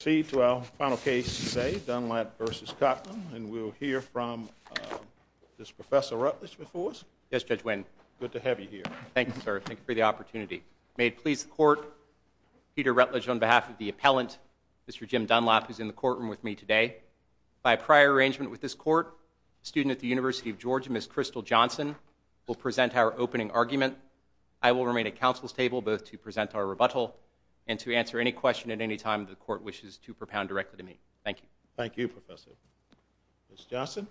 We proceed to our final case today, Dunlap v. Cottman, and we'll hear from, is Professor Rutledge before us? Yes, Judge Winn. Good to have you here. Thank you, sir. Thank you for the opportunity. May it please the Court, Peter Rutledge on behalf of the appellant, Mr. Jim Dunlap, who's in the courtroom with me today. By prior arrangement with this Court, a student at the University of Georgia, Ms. Crystal Johnson, will present our opening argument. I will remain at counsel's table both to present our rebuttal and to answer any question at any time the Court wishes to propound directly to me. Thank you. Thank you, Professor. Ms. Johnson?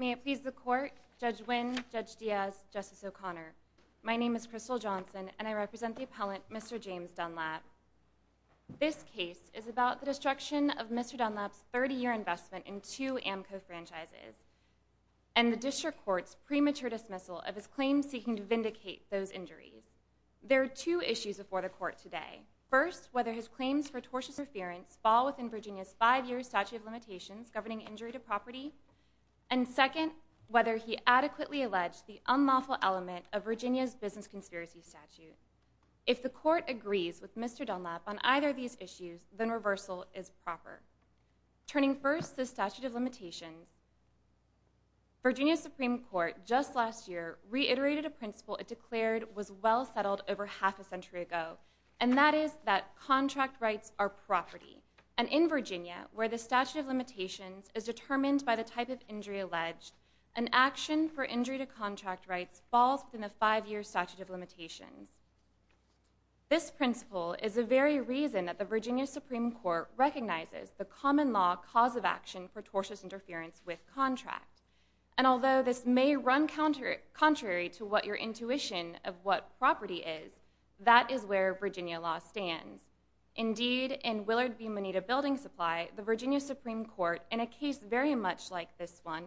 May it please the Court, Judge Winn, Judge Diaz, Justice O'Connor. My name is Crystal Johnson, and I represent the appellant, Mr. James Dunlap. This case is about the destruction of Mr. Dunlap's 30-year investment in two AMCO franchises and the District Court's premature dismissal of his claims seeking to vindicate those injuries. There are two issues before the Court today. First, whether his claims for tortious interference fall within Virginia's five-year statute of limitations governing injury to property, and second, whether he adequately alleged the unlawful element of Virginia's business conspiracy statute. If the Court agrees with Mr. Dunlap on either of these issues, then reversal is proper. Turning first to the statute of limitations, Virginia's Supreme Court just last year reiterated a principle it declared was well settled over half a century ago, and that is that contract rights are property. And in Virginia, where the statute of limitations is determined by the type of injury alleged, an action for injury to contract rights falls within the five-year statute of limitations. This principle is the very reason that the Virginia Supreme Court recognizes the common law cause of action for tortious interference with contract. And although this may run contrary to what your intuition of what property is, that is where Virginia law stands. Indeed, in Willard v. Moneta Building Supply, the Virginia Supreme Court, in a case very much like this one,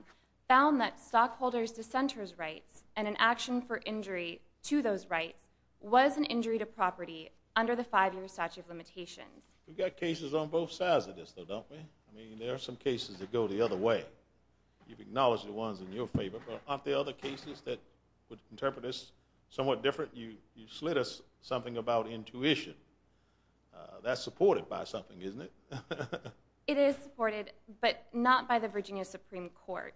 found that stockholders' dissenter's rights and an action for injury to those rights was an injury to property under the five-year statute of limitations. We've got cases on both sides of this, though, don't we? I mean, there are some cases that go the other way. You've acknowledged the ones in your favor, but aren't there other cases that would interpret this somewhat different? You slid us something about intuition. That's supported by something, isn't it? It is supported, but not by the Virginia Supreme Court.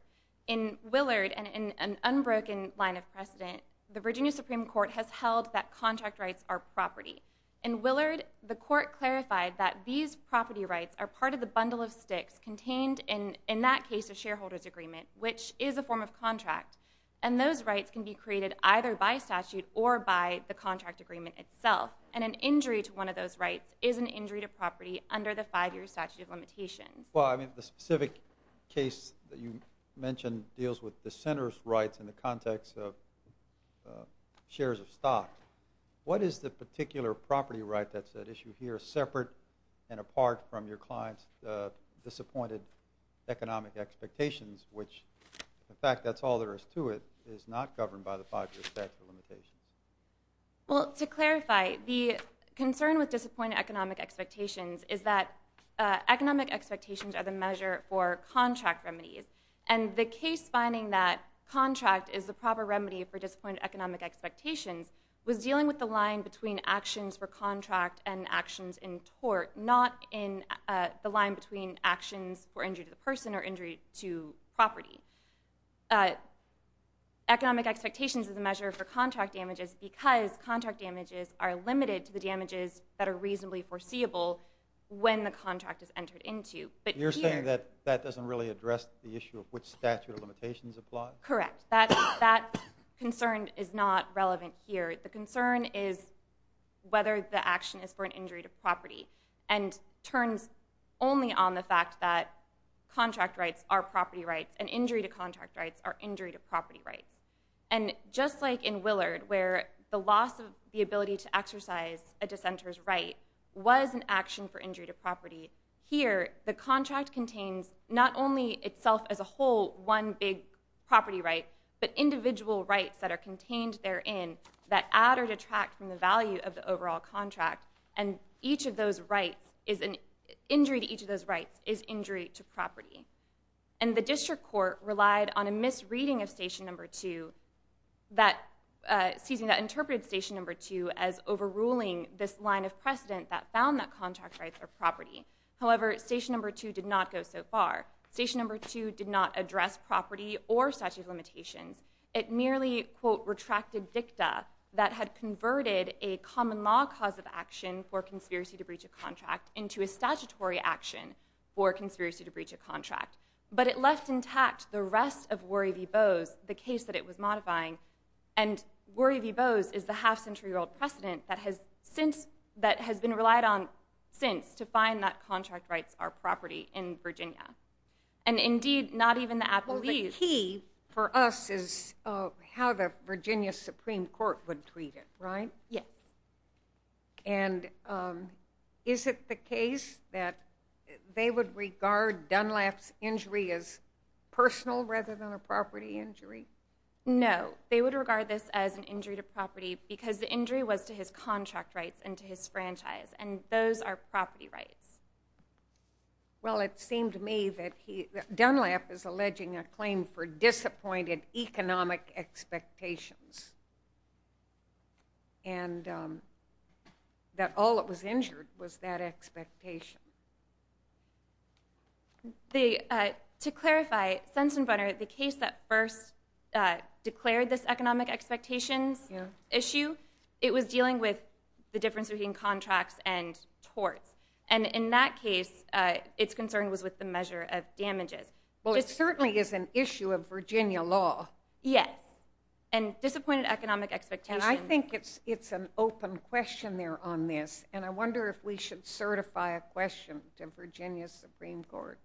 In Willard, and in an unbroken line of precedent, the Virginia Supreme Court has held that contract rights are property. In Willard, the court clarified that these property rights are part of the bundle of sticks contained in that case of shareholder's agreement, which is a form of contract, and those rights can be created either by statute or by the contract agreement itself. And an injury to one of those rights is an injury to property under the five-year statute of limitations. Well, I mean, the specific case that you mentioned deals with dissenter's rights in the context of shares of stock. What is the particular property right that's at issue here, separate and apart from your client's disappointed economic expectations, which, in fact, that's all there is to it, is not governed by the five-year statute of limitations? Well, to clarify, the concern with disappointed economic expectations is that economic expectations are the measure for contract remedies, and the case finding that contract is the proper remedy for disappointed economic expectations was dealing with the line between actions for contract and actions in tort, not in the line between actions for injury to the person or injury to property. Economic expectations is a measure for contract damages because contract damages are limited to the damages that are reasonably foreseeable when the contract is entered into. You're saying that that doesn't really address the issue of which statute of limitations applies? Correct. That concern is not relevant here. The concern is whether the action is for an injury to property and turns only on the fact that contract rights are property rights and injury to contract rights are injury to property rights. And just like in Willard, where the loss of the ability to exercise a dissenter's right was an action for injury to property, here the contract contains not only itself as a whole, one big property right, but individual rights that are contained therein that add or detract from the value of the overall contract, and injury to each of those rights is injury to property. And the district court relied on a misreading of Statute No. 2 that interpreted Statute No. 2 as overruling this line of precedent that found that contract rights are property. However, Statute No. 2 did not go so far. Statute No. 2 did not address property or statute of limitations. It merely, quote, retracted dicta that had converted a common law cause of action for conspiracy to breach a contract into a statutory action for conspiracy to breach a contract. But it left intact the rest of Worry v. Bowes, the case that it was modifying, and Worry v. Bowes is the half-century-old precedent that has been relied on since to find that contract rights are property in Virginia. And indeed, not even the appellees. Well, the key for us is how the Virginia Supreme Court would treat it, right? Yes. And is it the case that they would regard Dunlap's injury as personal rather than a property injury? No. They would regard this as an injury to property because the injury was to his contract rights and to his franchise, and those are property rights. Well, it seemed to me that Dunlap is alleging a claim for disappointed economic expectations. And that all that was injured was that expectation. To clarify, Sensenbrenner, the case that first declared this economic expectations issue, it was dealing with the difference between contracts and torts. And in that case, its concern was with the measure of damages. Well, it certainly is an issue of Virginia law. Yes. And disappointed economic expectations. And I think it's an open question there on this, and I wonder if we should certify a question to Virginia Supreme Court.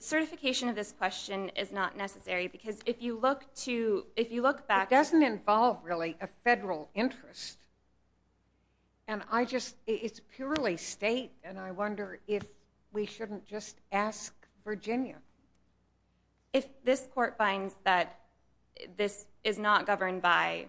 Certification of this question is not necessary because if you look back to— It doesn't involve, really, a federal interest. And I just—it's purely state, and I wonder if we shouldn't just ask Virginia. If this court finds that this is not governed by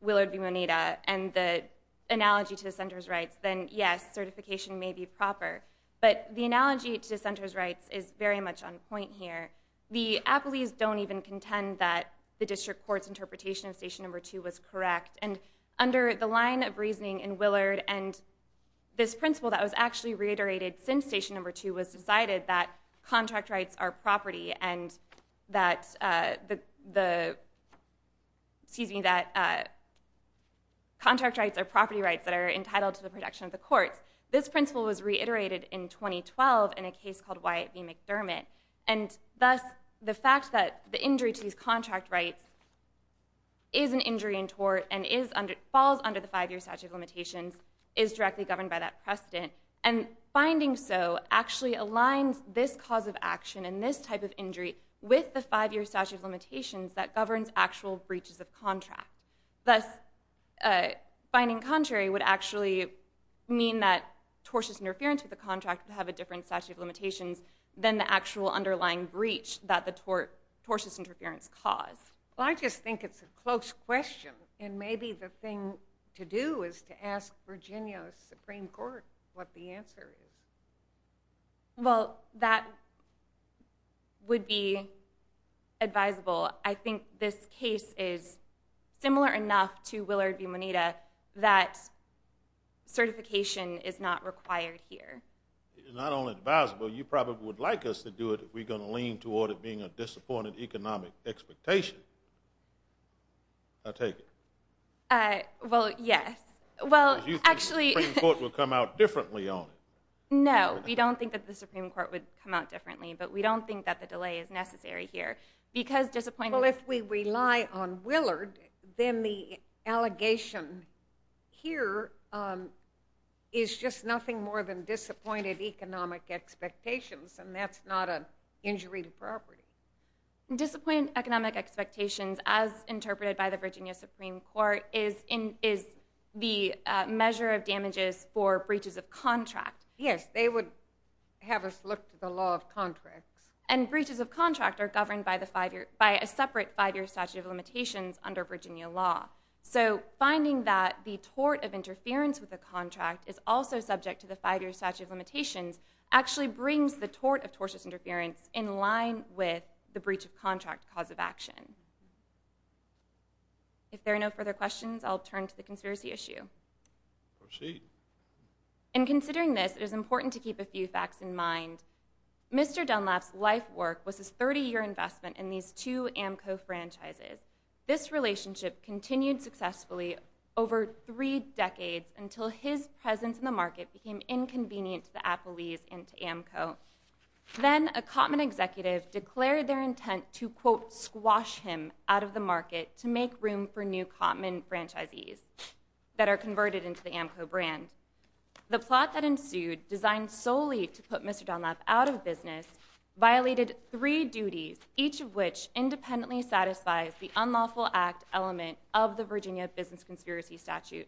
Willard v. Moneda and the analogy to the center's rights, then yes, certification may be proper. But the analogy to the center's rights is very much on point here. The appellees don't even contend that the district court's interpretation of Station No. 2 was correct. And under the line of reasoning in Willard and this principle that was actually reiterated since Station No. 2 was decided that contract rights are property and that the—excuse me, that contract rights are property rights that are entitled to the protection of the courts. This principle was reiterated in 2012 in a case called Wyatt v. McDermott. And thus, the fact that the injury to these contract rights is an injury in tort and falls under the five-year statute of limitations is directly governed by that precedent. And finding so actually aligns this cause of action and this type of injury with the five-year statute of limitations that governs actual breaches of contract. Thus, finding contrary would actually mean that tortious interference with the contract would have a different statute of limitations than the actual underlying breach that the tortious interference caused. Well, I just think it's a close question. And maybe the thing to do is to ask Virginia Supreme Court what the answer is. Well, that would be advisable. I think this case is similar enough to Willard v. Moneta that certification is not required here. Not only advisable, you probably would like us to do it if we're going to lean toward it being a disappointed economic expectation. I take it. Well, yes. Because you think the Supreme Court will come out differently on it. No, we don't think that the Supreme Court would come out differently, but we don't think that the delay is necessary here. Well, if we rely on Willard, then the allegation here is just nothing more than disappointed economic expectations, and that's not an injury to property. Disappointed economic expectations, as interpreted by the Virginia Supreme Court, is the measure of damages for breaches of contract. Yes, they would have us look to the law of contracts. And breaches of contract are governed by a separate five-year statute of limitations under Virginia law. So finding that the tort of interference with the contract is also subject to the five-year statute of limitations actually brings the tort of tortious interference in line with the breach of contract cause of action. If there are no further questions, I'll turn to the conspiracy issue. Proceed. In considering this, it is important to keep a few facts in mind. Mr. Dunlap's life work was his 30-year investment in these two AMCO franchises. This relationship continued successfully over three decades until his presence in the market became inconvenient to the Appleys and to AMCO. Then a Cotman executive declared their intent to, quote, squash him out of the market to make room for new Cotman franchisees that are converted into the AMCO brand. The plot that ensued, designed solely to put Mr. Dunlap out of business, violated three duties, each of which independently satisfies the unlawful act element of the Virginia business conspiracy statute.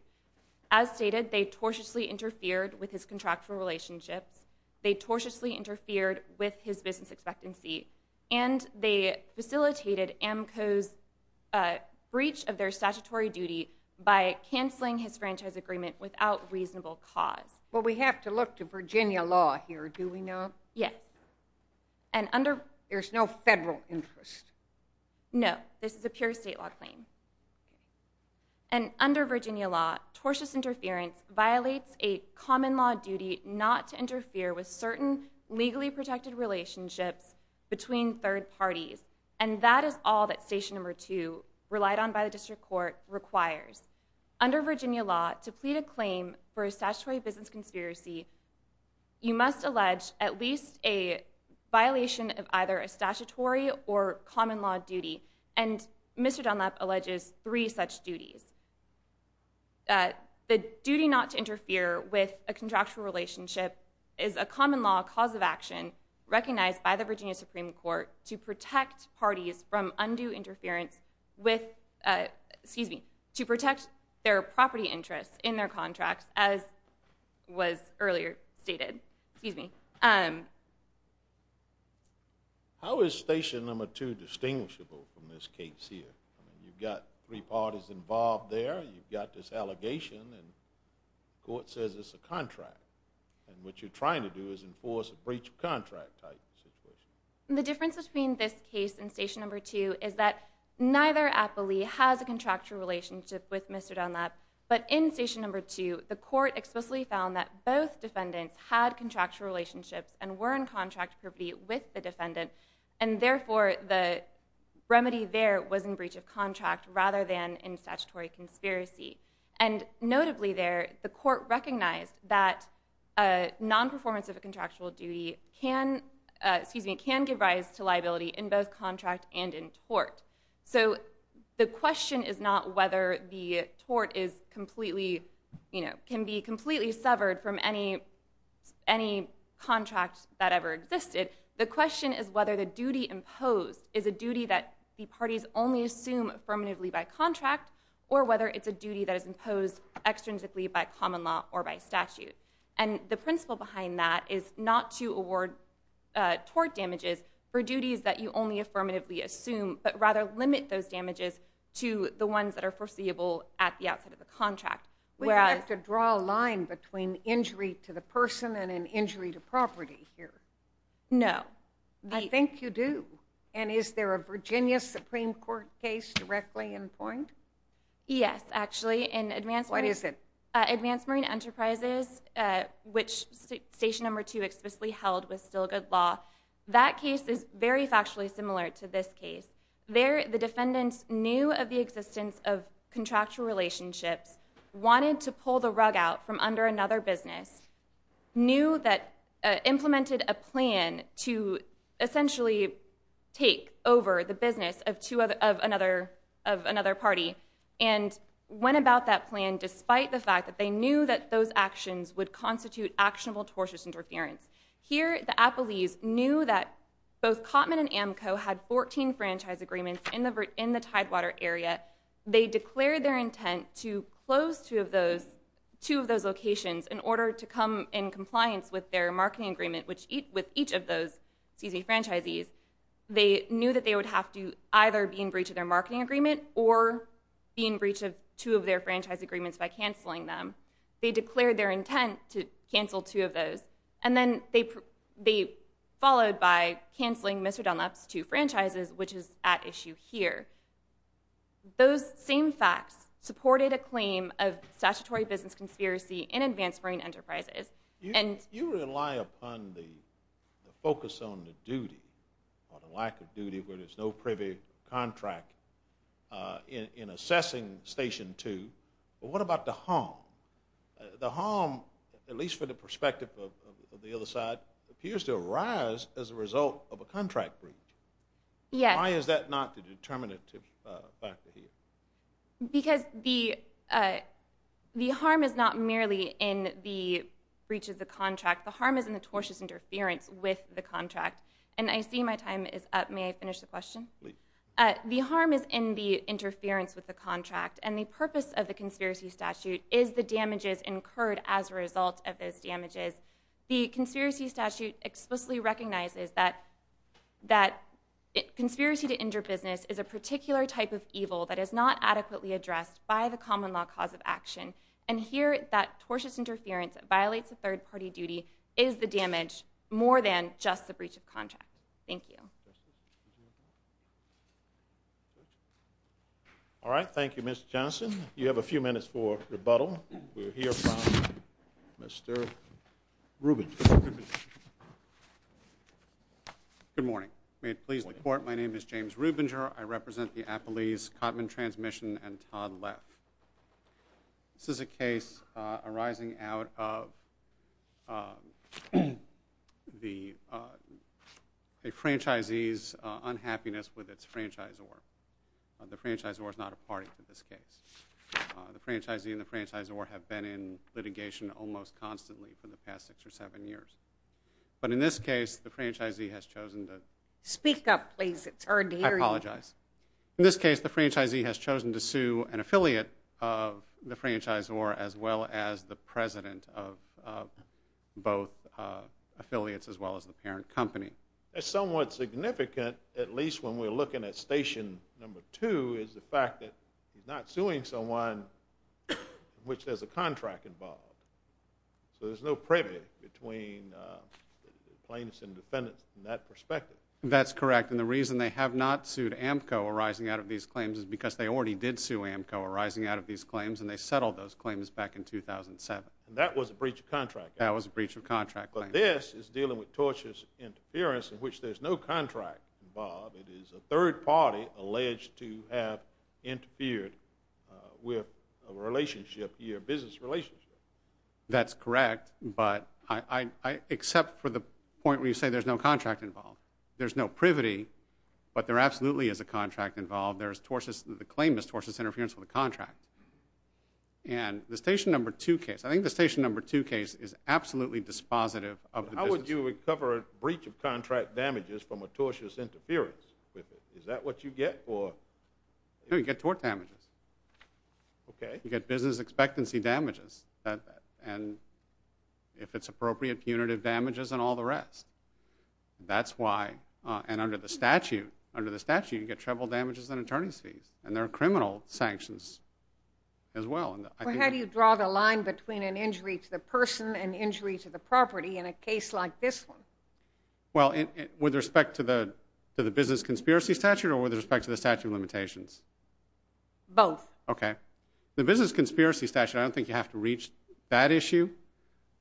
As stated, they tortiously interfered with his contractual relationships, they tortiously interfered with his business expectancy, and they facilitated AMCO's breach of their statutory duty by canceling his franchise agreement without reasonable cause. Well, we have to look to Virginia law here, do we not? Yes. There's no federal interest? No, this is a pure state law claim. And under Virginia law, tortious interference violates a common law duty not to interfere with certain legally protected relationships between third parties. And that is all that Station No. 2, relied on by the district court, requires. Under Virginia law, to plead a claim for a statutory business conspiracy, you must allege at least a violation of either a statutory or common law duty. And Mr. Dunlap alleges three such duties. The duty not to interfere with a contractual relationship is a common law cause of action recognized by the Virginia Supreme Court to protect parties from undue interference with, excuse me, to protect their property interests in their contracts, as was earlier stated. Excuse me. How is Station No. 2 distinguishable from this case here? I mean, you've got three parties involved there, you've got this allegation, and the court says it's a contract. And what you're trying to do is enforce a breach of contract type situation. The difference between this case and Station No. 2 is that neither appellee has a contractual relationship with Mr. Dunlap, but in Station No. 2, the court explicitly found that both defendants had contractual relationships and were in contractual property with the defendant, and therefore the remedy there was in breach of contract rather than in statutory conspiracy. And notably there, the court recognized that nonperformance of a contractual duty can give rise to liability in both contract and in tort. So the question is not whether the tort is completely, can be completely severed from any contract that ever existed. The question is whether the duty imposed is a duty that the parties only assume affirmatively by contract, or whether it's a duty that is imposed extrinsically by common law or by statute. And the principle behind that is not to award tort damages for duties that you only affirmatively assume, but rather limit those damages to the ones that are foreseeable at the outset of the contract. We don't have to draw a line between injury to the person and an injury to property here. No. I think you do. And is there a Virginia Supreme Court case directly in point? Yes, actually. What is it? Advanced Marine Enterprises, which Station No. 2 explicitly held was still good law. That case is very factually similar to this case. There the defendants knew of the existence of contractual relationships, wanted to pull the rug out from under another business, knew that implemented a plan to essentially take over the business of another party, and went about that plan despite the fact that they knew that those actions would constitute actionable tortious interference. Here the appellees knew that both Cotman and Amco had 14 franchise agreements in the Tidewater area. They declared their intent to close two of those locations in order to come in compliance with their marketing agreement with each of those franchisees. They knew that they would have to either be in breach of their marketing agreement or be in breach of two of their franchise agreements by canceling them. They declared their intent to cancel two of those. And then they followed by canceling Mr. Dunlap's two franchises, which is at issue here. Those same facts supported a claim of statutory business conspiracy in Advanced Marine Enterprises. You rely upon the focus on the duty, or the lack of duty, where there's no privy contract in assessing Station No. 2, but what about the harm? The harm, at least from the perspective of the other side, appears to arise as a result of a contract breach. Why is that not the determinative factor here? Because the harm is not merely in the breach of the contract. The harm is in the tortious interference with the contract. And I see my time is up. May I finish the question? Please. The harm is in the interference with the contract, and the purpose of the conspiracy statute is the damages incurred as a result of those damages. The conspiracy statute explicitly recognizes that conspiracy to injure business is a particular type of evil that is not adequately addressed by the common law cause of action. And here that tortious interference violates a third-party duty is the damage more than just the breach of contract. Thank you. Questions? All right, thank you, Mr. Johnson. You have a few minutes for rebuttal. We'll hear from Mr. Rubinger. Good morning. May it please the Court, my name is James Rubinger. I represent the Appalese-Cotman Transmission and Todd Leff. This is a case arising out of a franchisee's unhappiness with its franchisor. The franchisor is not a party to this case. The franchisee and the franchisor have been in litigation almost constantly for the past six or seven years. But in this case, the franchisee has chosen to... Speak up, please. It's hard to hear you. I apologize. In this case, the franchisee has chosen to sue an affiliate of the franchisor as well as the president of both affiliates as well as the parent company. That's somewhat significant, at least when we're looking at Station No. 2, is the fact that he's not suing someone in which there's a contract involved. So there's no privy between plaintiffs and defendants in that perspective. That's correct. And the reason they have not sued AMCO arising out of these claims is because they already did sue AMCO arising out of these claims, and they settled those claims back in 2007. And that was a breach of contract? That was a breach of contract. But this is dealing with tortious interference in which there's no contract involved. It is a third party alleged to have interfered with a relationship, your business relationship. That's correct, but I accept for the point where you say there's no contract involved. There's no privity, but there absolutely is a contract involved. The claim is tortious interference with a contract. And the Station No. 2 case, I think the Station No. 2 case is absolutely dispositive of the business. How would you recover a breach of contract damages from a tortious interference? Is that what you get? No, you get tort damages. You get business expectancy damages. And if it's appropriate, punitive damages and all the rest. That's why, and under the statute, you get treble damages and attorney's fees. And there are criminal sanctions as well. Well, how do you draw the line between an injury to the person and injury to the property in a case like this one? Well, with respect to the business conspiracy statute or with respect to the statute of limitations? Both. Okay. The business conspiracy statute, I don't think you have to reach that issue.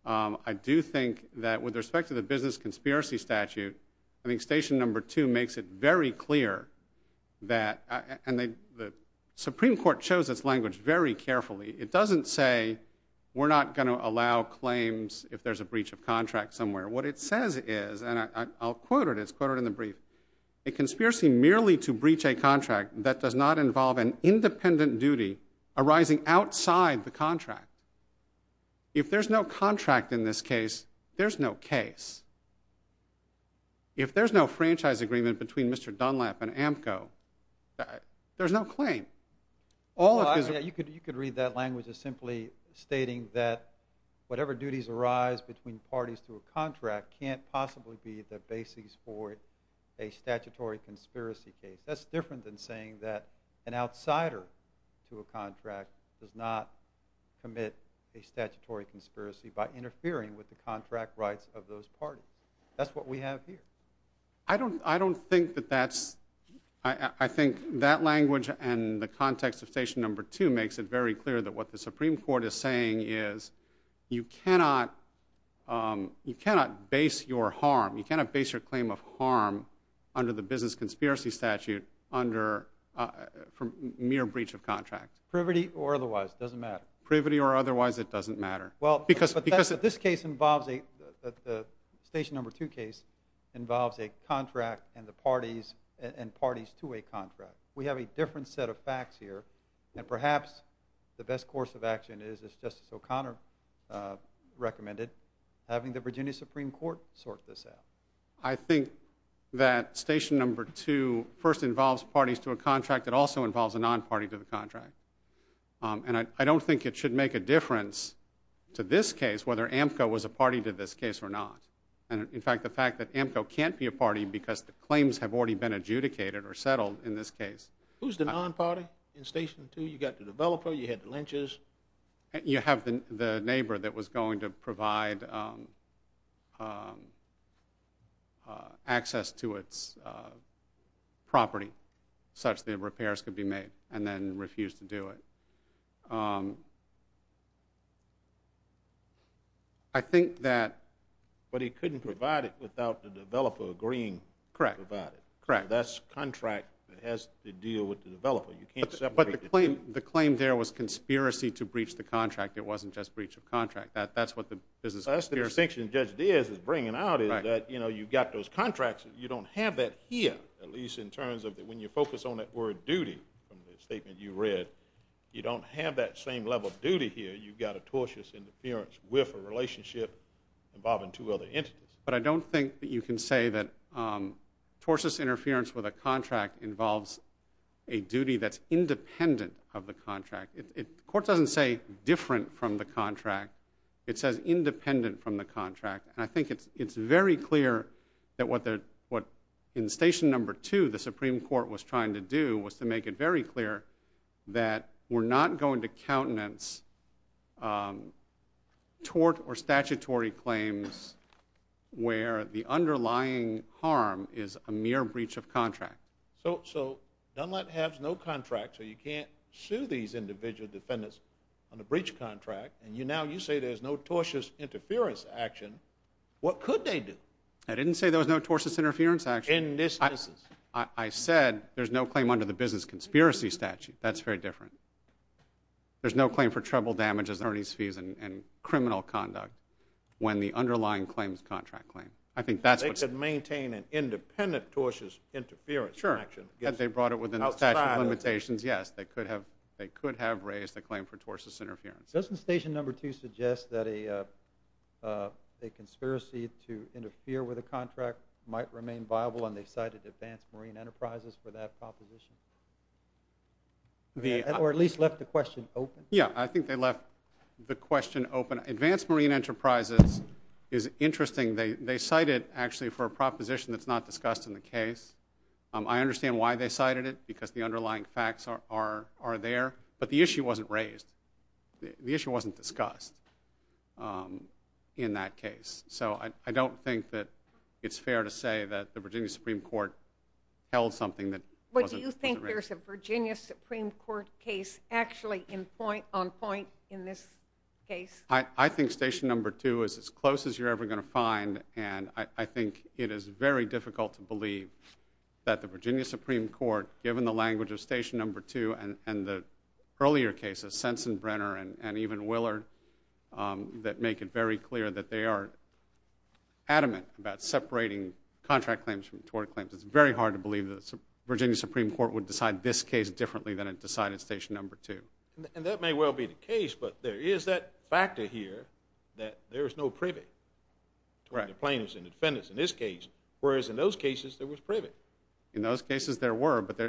I do think that with respect to the business conspiracy statute, I think Station No. 2 makes it very clear that, and the Supreme Court chose its language very carefully, it doesn't say we're not going to allow claims if there's a breach of contract somewhere. What it says is, and I'll quote it, it's quoted in the brief, a conspiracy merely to breach a contract that does not involve an independent duty arising outside the contract. If there's no contract in this case, there's no case. If there's no franchise agreement between Mr. Dunlap and AMCO, there's no claim. Well, you could read that language as simply stating that whatever duties arise between parties to a contract can't possibly be the basis for a statutory conspiracy case. That's different than saying that an outsider to a contract does not commit a statutory conspiracy by interfering with the contract rights of those parties. That's what we have here. I don't think that that's, I think that language and the context of Station No. 2 makes it very clear that what the Supreme Court is saying is you cannot base your harm, you cannot base your claim of harm under the business conspiracy statute under mere breach of contract. Privity or otherwise, it doesn't matter. Privity or otherwise, it doesn't matter. But this case involves, the Station No. 2 case, involves a contract and parties to a contract. We have a different set of facts here. And perhaps the best course of action is, as Justice O'Connor recommended, having the Virginia Supreme Court sort this out. I think that Station No. 2 first involves parties to a contract. It also involves a non-party to the contract. And I don't think it should make a difference to this case whether AMCO was a party to this case or not. And, in fact, the fact that AMCO can't be a party because the claims have already been adjudicated or settled in this case. Who's the non-party in Station No. 2? You got the developer, you had the lynchers. You have the neighbor that was going to provide access to its property such that repairs could be made and then refused to do it. I think that. But he couldn't provide it without the developer agreeing to provide it. Correct. That's contract that has to deal with the developer. You can't separate the two. But the claim there was conspiracy to breach the contract. It wasn't just breach of contract. That's the distinction Judge Diaz is bringing out is that you've got those contracts. You don't have that here, at least in terms of when you focus on that word duty, from the statement you read, you don't have that same level of duty here. You've got a tortious interference with a relationship involving two other entities. But I don't think that you can say that a duty that's independent of the contract. The court doesn't say different from the contract. It says independent from the contract. I think it's very clear that what in Station No. 2 the Supreme Court was trying to do was to make it very clear that we're not going to countenance tort or statutory claims where the underlying harm is a mere breach of contract. So Dunlap has no contract. So you can't sue these individual defendants on a breach of contract. And now you say there's no tortious interference action. What could they do? I didn't say there was no tortious interference action. In this instance. I said there's no claim under the business conspiracy statute. That's very different. There's no claim for trouble, damages, attorneys' fees, and criminal conduct when the underlying claim is a contract claim. They could maintain an independent tortious interference action. Sure. Had they brought it within the statute of limitations, yes. They could have raised a claim for tortious interference. Doesn't Station No. 2 suggest that a conspiracy to interfere with a contract might remain viable, and they cited Advanced Marine Enterprises for that proposition? Or at least left the question open? Yeah, I think they left the question open. Advanced Marine Enterprises is interesting. They cite it, actually, for a proposition that's not discussed in the case. I understand why they cited it, because the underlying facts are there. But the issue wasn't raised. The issue wasn't discussed in that case. So I don't think that it's fair to say that the Virginia Supreme Court held something that wasn't raised. But do you think there's a Virginia Supreme Court case actually on point in this case? I think Station No. 2 is as close as you're ever going to find, and I think it is very difficult to believe that the Virginia Supreme Court, given the language of Station No. 2 and the earlier cases, Sensenbrenner and even Willard, that make it very clear that they are adamant about separating contract claims from tort claims. It's very hard to believe the Virginia Supreme Court would decide this case differently than it decided Station No. 2. And that may well be the case, but there is that factor here, that there is no privy to the plaintiffs and the defendants in this case, whereas in those cases there was privy. In those cases there were, but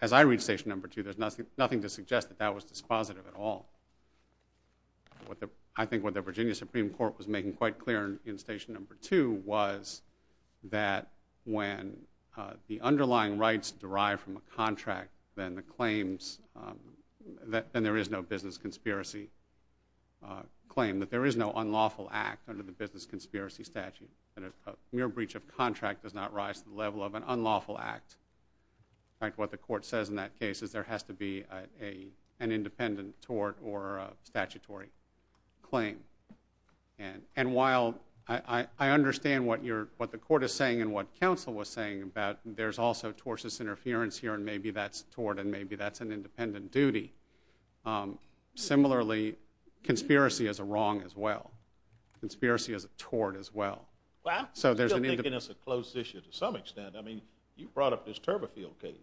as I read Station No. 2, there's nothing to suggest that that was dispositive at all. I think what the Virginia Supreme Court was making quite clear in Station No. 2 was that when the underlying rights derive from a contract, then there is no business conspiracy claim, that there is no unlawful act under the business conspiracy statute, that a mere breach of contract does not rise to the level of an unlawful act. In fact, what the court says in that case is there has to be an independent tort or statutory claim. And while I understand what the court is saying and what counsel was saying about that, there's also tortious interference here and maybe that's tort and maybe that's an independent duty. Similarly, conspiracy is a wrong as well. Conspiracy is a tort as well. Well, I'm still thinking it's a closed issue to some extent. I mean, you brought up this Turberfield case.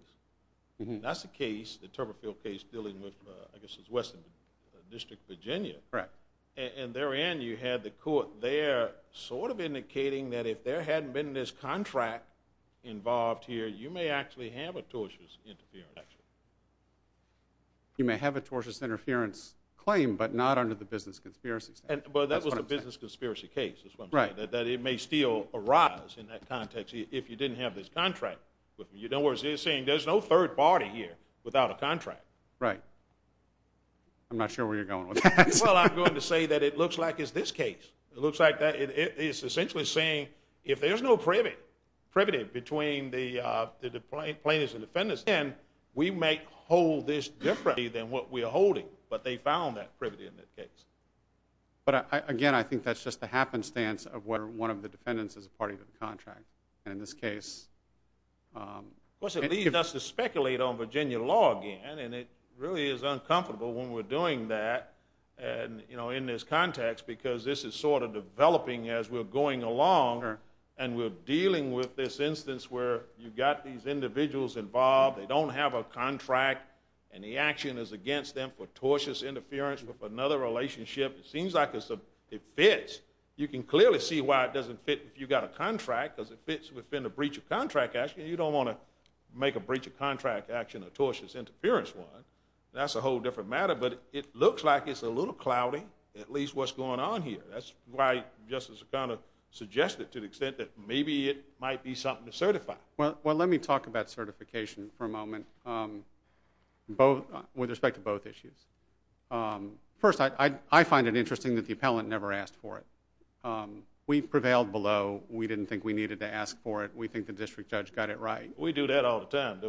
That's a case, the Turberfield case, dealing with, I guess it's Western District, Virginia. Correct. And therein you had the court there sort of indicating that if there hadn't been this contract involved here, you may actually have a tortious interference. You may have a tortious interference claim but not under the business conspiracy statute. Well, that was the business conspiracy case, is what I'm saying, that it may still arise in that context if you didn't have this contract. In other words, you're saying there's no third party here without a contract. Right. I'm not sure where you're going with that. Well, I'm going to say that it looks like it's this case. It looks like that. It's essentially saying if there's no privity between the plaintiffs and defendants, then we may hold this differently than what we are holding. But they found that privity in that case. But, again, I think that's just the happenstance of where one of the defendants is a party to the contract. And in this case – Of course, it leads us to speculate on Virginia law again, and it really is uncomfortable when we're doing that in this context because this is sort of developing as we're going along and we're dealing with this instance where you've got these individuals involved, they don't have a contract, and the action is against them for tortious interference with another relationship. It seems like it fits. You can clearly see why it doesn't fit if you've got a contract because it fits within a breach of contract action. You don't want to make a breach of contract action a tortious interference one. That's a whole different matter. But it looks like it's a little cloudy, at least what's going on here. That's why Justice O'Connor suggested to the extent that maybe it might be something to certify. Well, let me talk about certification for a moment with respect to both issues. First, I find it interesting that the appellant never asked for it. We prevailed below. We didn't think we needed to ask for it. We think the district judge got it right. We do that all the time. A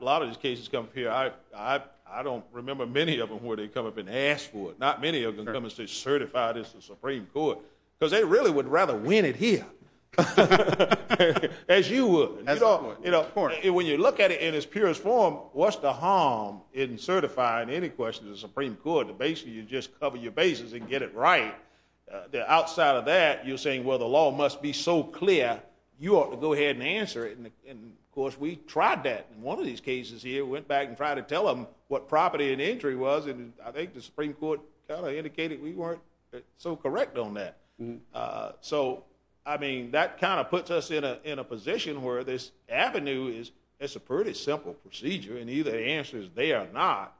lot of these cases come up here. I don't remember many of them where they come up and ask for it. Not many of them come and say certify this to the Supreme Court because they really would rather win it here as you would. When you look at it in its purest form, what's the harm in certifying any question to the Supreme Court? Basically, you just cover your bases and get it right. Outside of that, you're saying, well, the law must be so clear, you ought to go ahead and answer it. Of course, we tried that in one of these cases here. We went back and tried to tell them what property and entry was. I think the Supreme Court kind of indicated we weren't so correct on that. That kind of puts us in a position where this avenue is a pretty simple procedure and either the answer is they are not.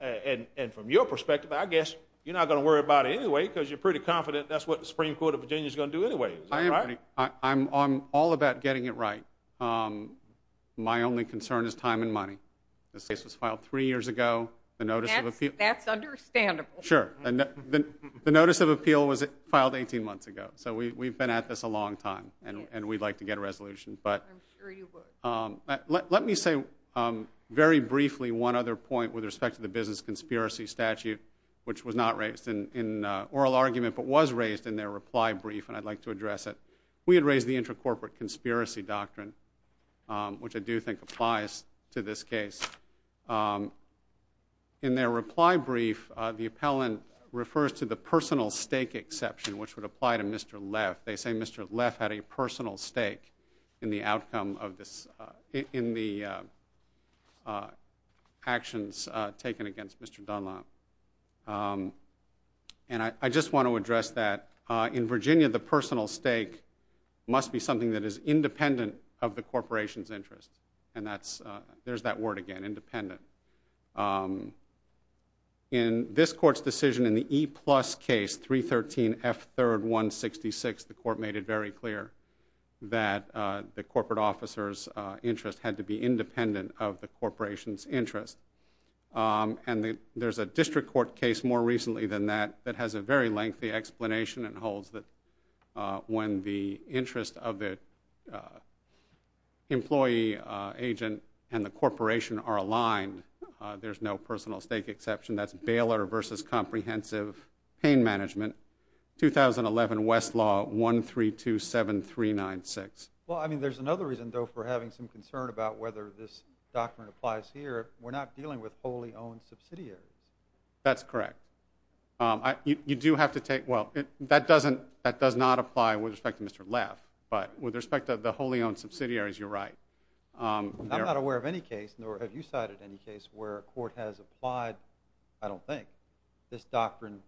From your perspective, I guess you're not going to worry about it anyway because you're pretty confident that's what the Supreme Court of Virginia is going to do anyway, is that right? I'm all about getting it right. My only concern is time and money. This case was filed three years ago. That's understandable. Sure. The notice of appeal was filed 18 months ago, so we've been at this a long time and we'd like to get a resolution. I'm sure you would. Let me say very briefly one other point with respect to the business conspiracy statute, which was not raised in oral argument but was raised in their reply brief, and I'd like to address it. We had raised the intracorporate conspiracy doctrine, which I do think applies to this case. In their reply brief, the appellant refers to the personal stake exception, which would apply to Mr. Leff. They say Mr. Leff had a personal stake in the actions taken against Mr. Dunlap. I just want to address that. In Virginia, the personal stake must be something that is independent of the corporation's interest. There's that word again, independent. In this court's decision in the E-plus case, 313F3-166, the court made it very clear that the corporate officer's interest had to be independent of the corporation's interest. There's a district court case more recently than that that has a very lengthy explanation and holds that when the interest of the employee, agent, and the corporation are aligned, there's no personal stake exception. That's Baylor v. Comprehensive Pain Management, 2011 Westlaw 1327396. Well, I mean, there's another reason, though, for having some concern about whether this doctrine applies here. We're not dealing with wholly owned subsidiaries. That's correct. You do have to take—well, that does not apply with respect to Mr. Leff, but with respect to the wholly owned subsidiaries, you're right. I'm not aware of any case, nor have you cited any case, where a court has applied, I don't think, this doctrine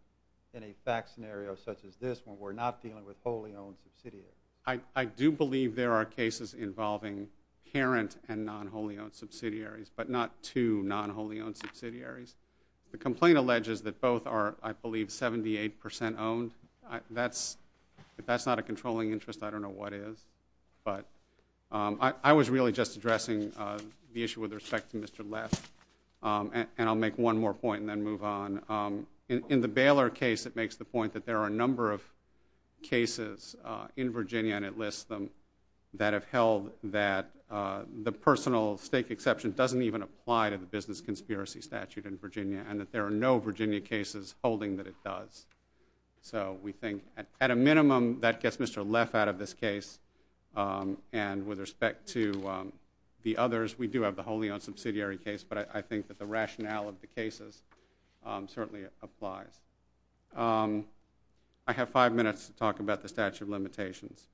in a fact scenario such as this when we're not dealing with wholly owned subsidiaries. I do believe there are cases involving parent and non-wholly owned subsidiaries, but not two non-wholly owned subsidiaries. The complaint alleges that both are, I believe, 78% owned. If that's not a controlling interest, I don't know what is. But I was really just addressing the issue with respect to Mr. Leff, and I'll make one more point and then move on. In the Baylor case, it makes the point that there are a number of cases in Virginia, and it lists them, that have held that the personal stake exception doesn't even apply to the business conspiracy statute in Virginia, and that there are no Virginia cases holding that it does. So we think, at a minimum, that gets Mr. Leff out of this case, and with respect to the others, we do have the wholly owned subsidiary case, but I think that the rationale of the cases certainly applies. I have five minutes to talk about the statute of limitations.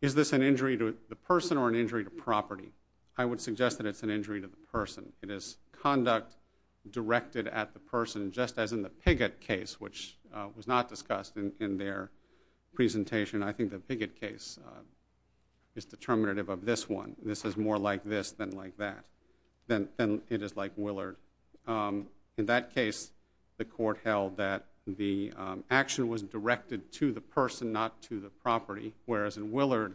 Is this an injury to the person or an injury to property? I would suggest that it's an injury to the person. It is conduct directed at the person, just as in the Piggott case, which was not discussed in their presentation. I think the Piggott case is determinative of this one. This is more like this than like that, than it is like Willard. In that case, the court held that the action was directed to the person, not to the property, whereas in Willard,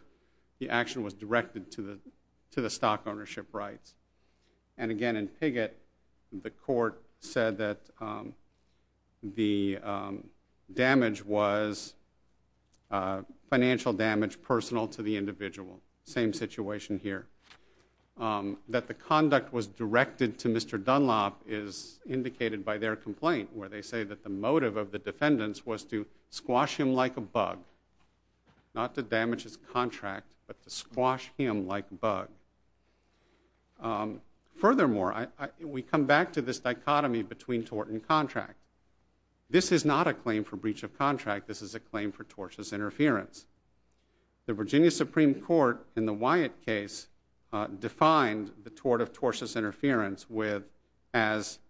the action was directed to the stock ownership rights. And again, in Piggott, the court said that the damage was financial damage, personal to the individual, same situation here. That the conduct was directed to Mr. Dunlop is indicated by their complaint, where they say that the motive of the defendants was to squash him like a bug, not to damage his contract, but to squash him like a bug. Furthermore, we come back to this dichotomy between tort and contract. This is not a claim for breach of contract. This is a claim for tortious interference. The Virginia Supreme Court, in the Wyatt case, defined the tort of tortious interference as,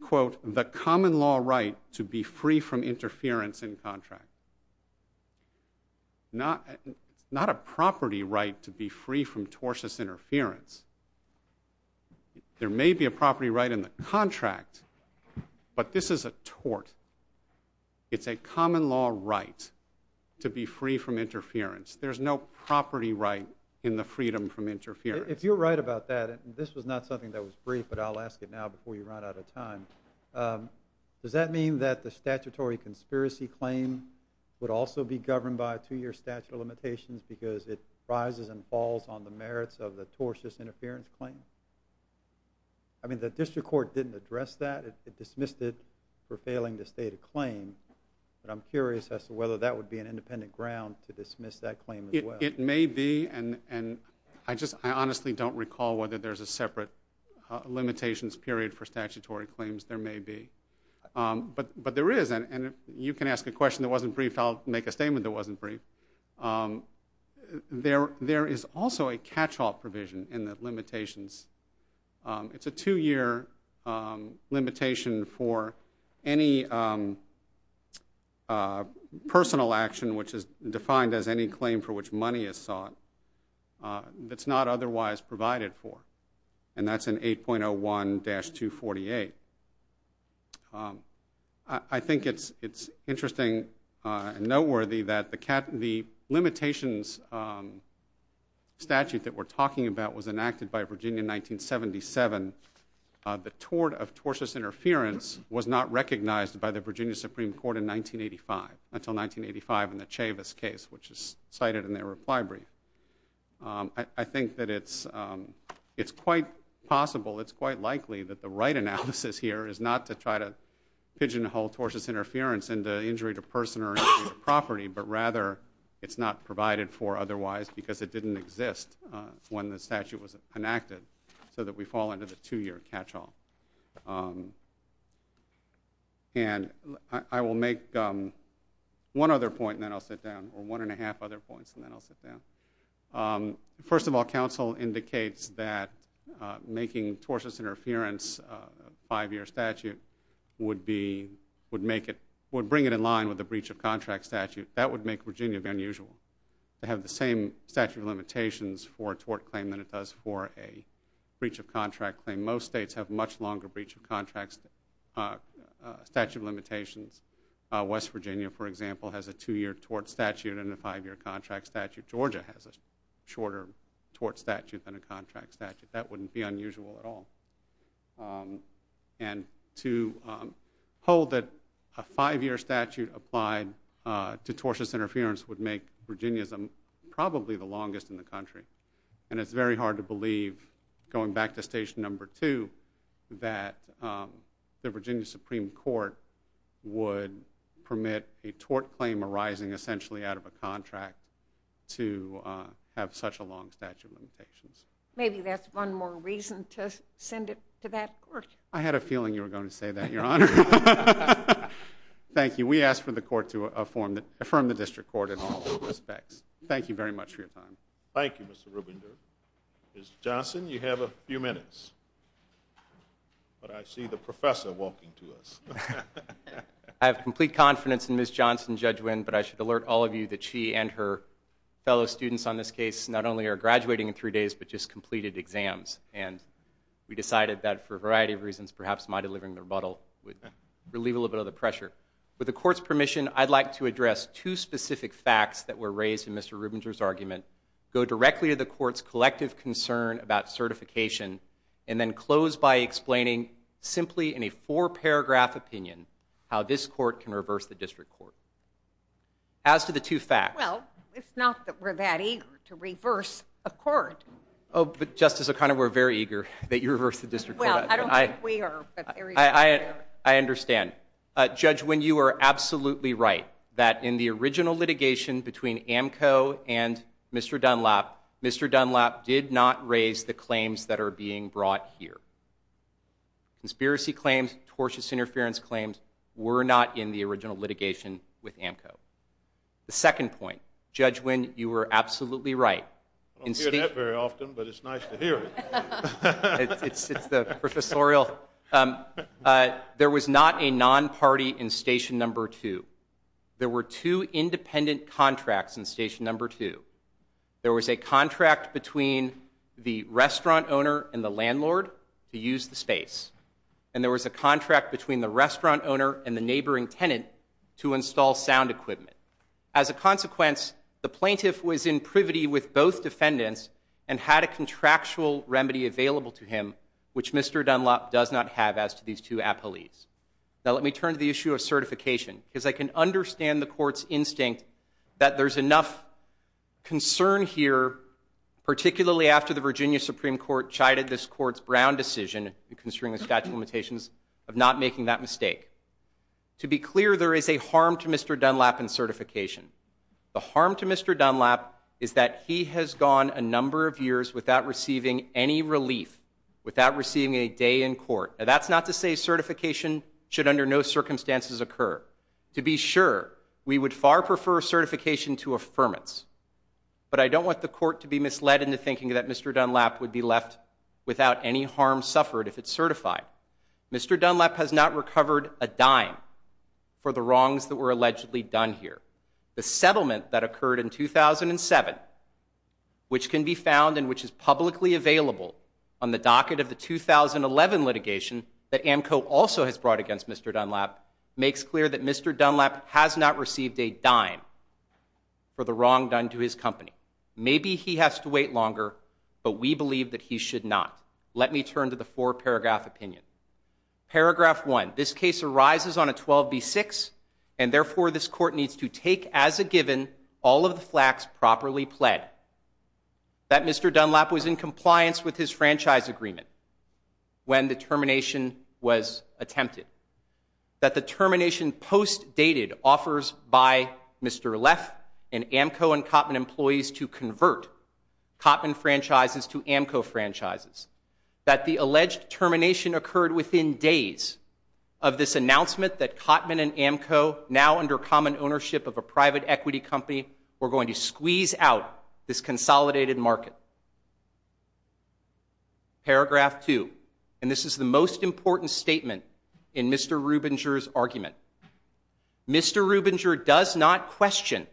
quote, the common law right to be free from interference in contract. Not a property right to be free from tortious interference. There may be a property right in the contract, but this is a tort. It's a common law right to be free from interference. There's no property right in the freedom from interference. If you're right about that, and this was not something that was brief, but I'll ask it now before you run out of time, does that mean that the statutory conspiracy claim would also be governed by a two-year statute of limitations because it rises and falls on the merits of the tortious interference claim? I mean, the district court didn't address that. It dismissed it for failing to state a claim, but I'm curious as to whether that would be an independent ground to dismiss that claim as well. It may be, and I honestly don't recall whether there's a separate limitations period for statutory claims. There may be, but there is, and you can ask a question that wasn't brief. I'll make a statement that wasn't brief. There is also a catch-all provision in the limitations. It's a two-year limitation for any personal action, which is defined as any claim for which money is sought, that's not otherwise provided for, and that's in 8.01-248. I think it's interesting and noteworthy that the limitations statute that we're talking about was enacted by Virginia in 1977. The tort of tortious interference was not recognized by the Virginia Supreme Court until 1985 in the Chavis case, which is cited in their reply brief. I think that it's quite possible, it's quite likely, that the right analysis here is not to try to pigeonhole tortious interference into injury to person or injury to property, but rather it's not provided for otherwise because it didn't exist when the statute was enacted so that we fall under the two-year catch-all. I will make one other point, and then I'll sit down, or one and a half other points, and then I'll sit down. First of all, counsel indicates that making tortious interference a 5-year statute would bring it in line with a breach of contract statute. That would make Virginia be unusual. They have the same statute of limitations for a tort claim than it does for a breach of contract claim. Most states have much longer breach of contract statute limitations. West Virginia, for example, has a 2-year tort statute and a 5-year contract statute. Georgia has a shorter tort statute than a contract statute. That wouldn't be unusual at all. And to hold that a 5-year statute applied to tortious interference would make Virginians probably the longest in the country. And it's very hard to believe, going back to stage number 2, that the Virginia Supreme Court would permit a tort claim arising essentially out of a contract to have such a long statute of limitations. Maybe that's one more reason to send it to that court. I had a feeling you were going to say that, Your Honor. Thank you. We ask for the court to affirm the district court in all respects. Thank you very much for your time. Thank you, Mr. Rubinder. Ms. Johnson, you have a few minutes. But I see the professor walking to us. I have complete confidence in Ms. Johnson, Judge Winn, but I should alert all of you that she and her fellow students on this case not only are graduating in three days but just completed exams. And we decided that for a variety of reasons, perhaps my delivering the rebuttal would relieve a little bit of the pressure. With the court's permission, I'd like to address two specific facts that were raised in Mr. Rubinder's argument, go directly to the court's collective concern about certification, and then close by explaining simply in a four-paragraph opinion how this court can reverse the district court. As to the two facts. Well, it's not that we're that eager to reverse a court. Oh, but Justice O'Connor, we're very eager that you reverse the district court. Well, I don't think we are. I understand. Judge Winn, you are absolutely right that in the original litigation between AMCO and Mr. Dunlap, Mr. Dunlap did not raise the claims that are being brought here. Conspiracy claims, tortious interference claims were not in the original litigation with AMCO. The second point, Judge Winn, you were absolutely right. I don't hear that very often, but it's nice to hear it. It's the professorial. There was not a non-party in Station No. 2. There were two independent contracts in Station No. 2. There was a contract between the restaurant owner and the landlord to use the space, and there was a contract between the restaurant owner and the neighboring tenant to install sound equipment. As a consequence, the plaintiff was in privity with both defendants and had a contractual remedy available to him, which Mr. Dunlap does not have as to these two appellees. Now let me turn to the issue of certification, because I can understand the court's instinct that there's enough concern here, particularly after the Virginia Supreme Court chided this court's Brown decision concerning the statute of limitations of not making that mistake. To be clear, there is a harm to Mr. Dunlap in certification. The harm to Mr. Dunlap is that he has gone a number of years without receiving any relief, without receiving a day in court. Now that's not to say certification should under no circumstances occur. To be sure, we would far prefer certification to affirmance. But I don't want the court to be misled into thinking that Mr. Dunlap would be left without any harm suffered if it's certified. Mr. Dunlap has not recovered a dime for the wrongs that were allegedly done here. The settlement that occurred in 2007, which can be found and which is publicly available on the docket of the 2011 litigation that AMCO also has brought against Mr. Dunlap, makes clear that Mr. Dunlap has not received a dime for the wrong done to his company. Maybe he has to wait longer, but we believe that he should not. Let me turn to the four-paragraph opinion. Paragraph 1. This case arises on a 12b-6, and therefore this court needs to take as a given all of the flaks properly pled that Mr. Dunlap was in compliance with his franchise agreement when the termination was attempted, that the termination post-dated offers by Mr. Leff and AMCO and Kottman employees to convert Kottman franchises to AMCO franchises, that the alleged termination occurred within days of this announcement that Kottman and AMCO, now under common ownership of a private equity company, were going to squeeze out this consolidated market. Paragraph 2. And this is the most important statement in Mr. Rubinger's argument. Mr. Rubinger does not question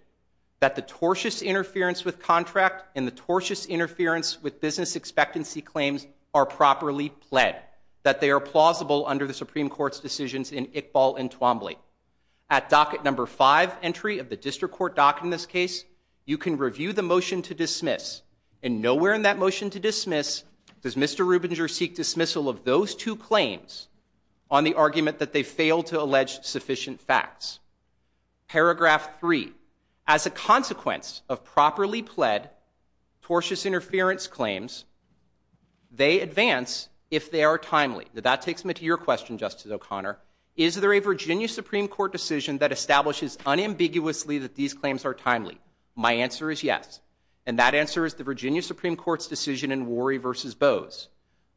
that the tortious interference with contract and the tortious interference with business expectancy claims are properly pled, that they are plausible under the Supreme Court's decisions in Iqbal and Twombly. At docket number 5, entry of the district court docket in this case, you can review the motion to dismiss, and nowhere in that motion to dismiss does Mr. Rubinger seek dismissal of those two claims on the argument that they failed to allege sufficient facts. Paragraph 3. As a consequence of properly pled tortious interference claims, they advance if they are timely. That takes me to your question, Justice O'Connor. Is there a Virginia Supreme Court decision that establishes unambiguously that these claims are timely? My answer is yes. And that answer is the Virginia Supreme Court's decision in Worry v. Bose,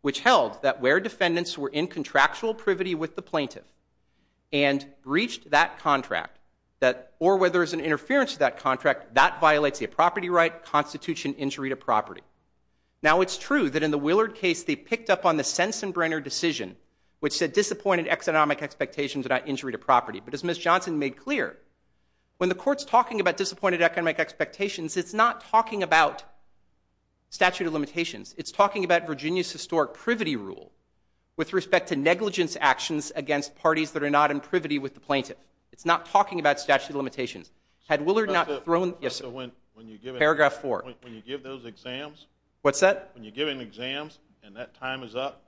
which held that where defendants were in contractual privity with the plaintiff and breached that contract, or where there's an interference to that contract, that violates a property right, constitutes an injury to property. Now, it's true that in the Willard case they picked up on the sense and brainer decision which said disappointed economic expectations are not injury to property. But as Ms. Johnson made clear, when the Court's talking about disappointed economic expectations, it's not talking about statute of limitations. It's talking about Virginia's historic privity rule with respect to negligence actions against parties that are not in privity with the plaintiff. It's not talking about statute of limitations. Had Willard not thrown... Yes, sir. Paragraph 4. When you give those exams... What's that? When you give them exams and that time is up,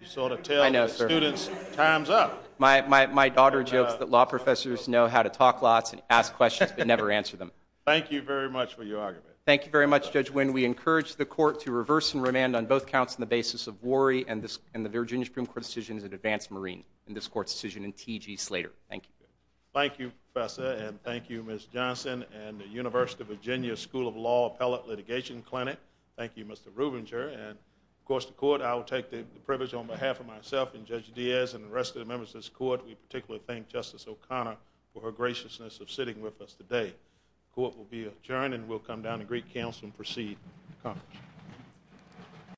you sort of tell the students time's up. My daughter jokes that law professors know how to talk lots and ask questions but never answer them. Thank you very much for your argument. Thank you very much, Judge Wynn. We encourage the Court to reverse and remand on both counts on the basis of Worry and the Virginia Supreme Court's decision in advance Marine and this Court's decision in T.G. Slater. Thank you. Thank you, Professor, and thank you, Ms. Johnson, and the University of Virginia School of Law Appellate Litigation Clinic. Thank you, Mr. Rubinger. And, of course, the Court, I will take the privilege on behalf of myself and Judge Diaz and the rest of the members of this Court, we particularly thank Justice O'Connor for her graciousness of sitting with us today. The Court will be adjourned and we'll come down to Greek Council and proceed. Court.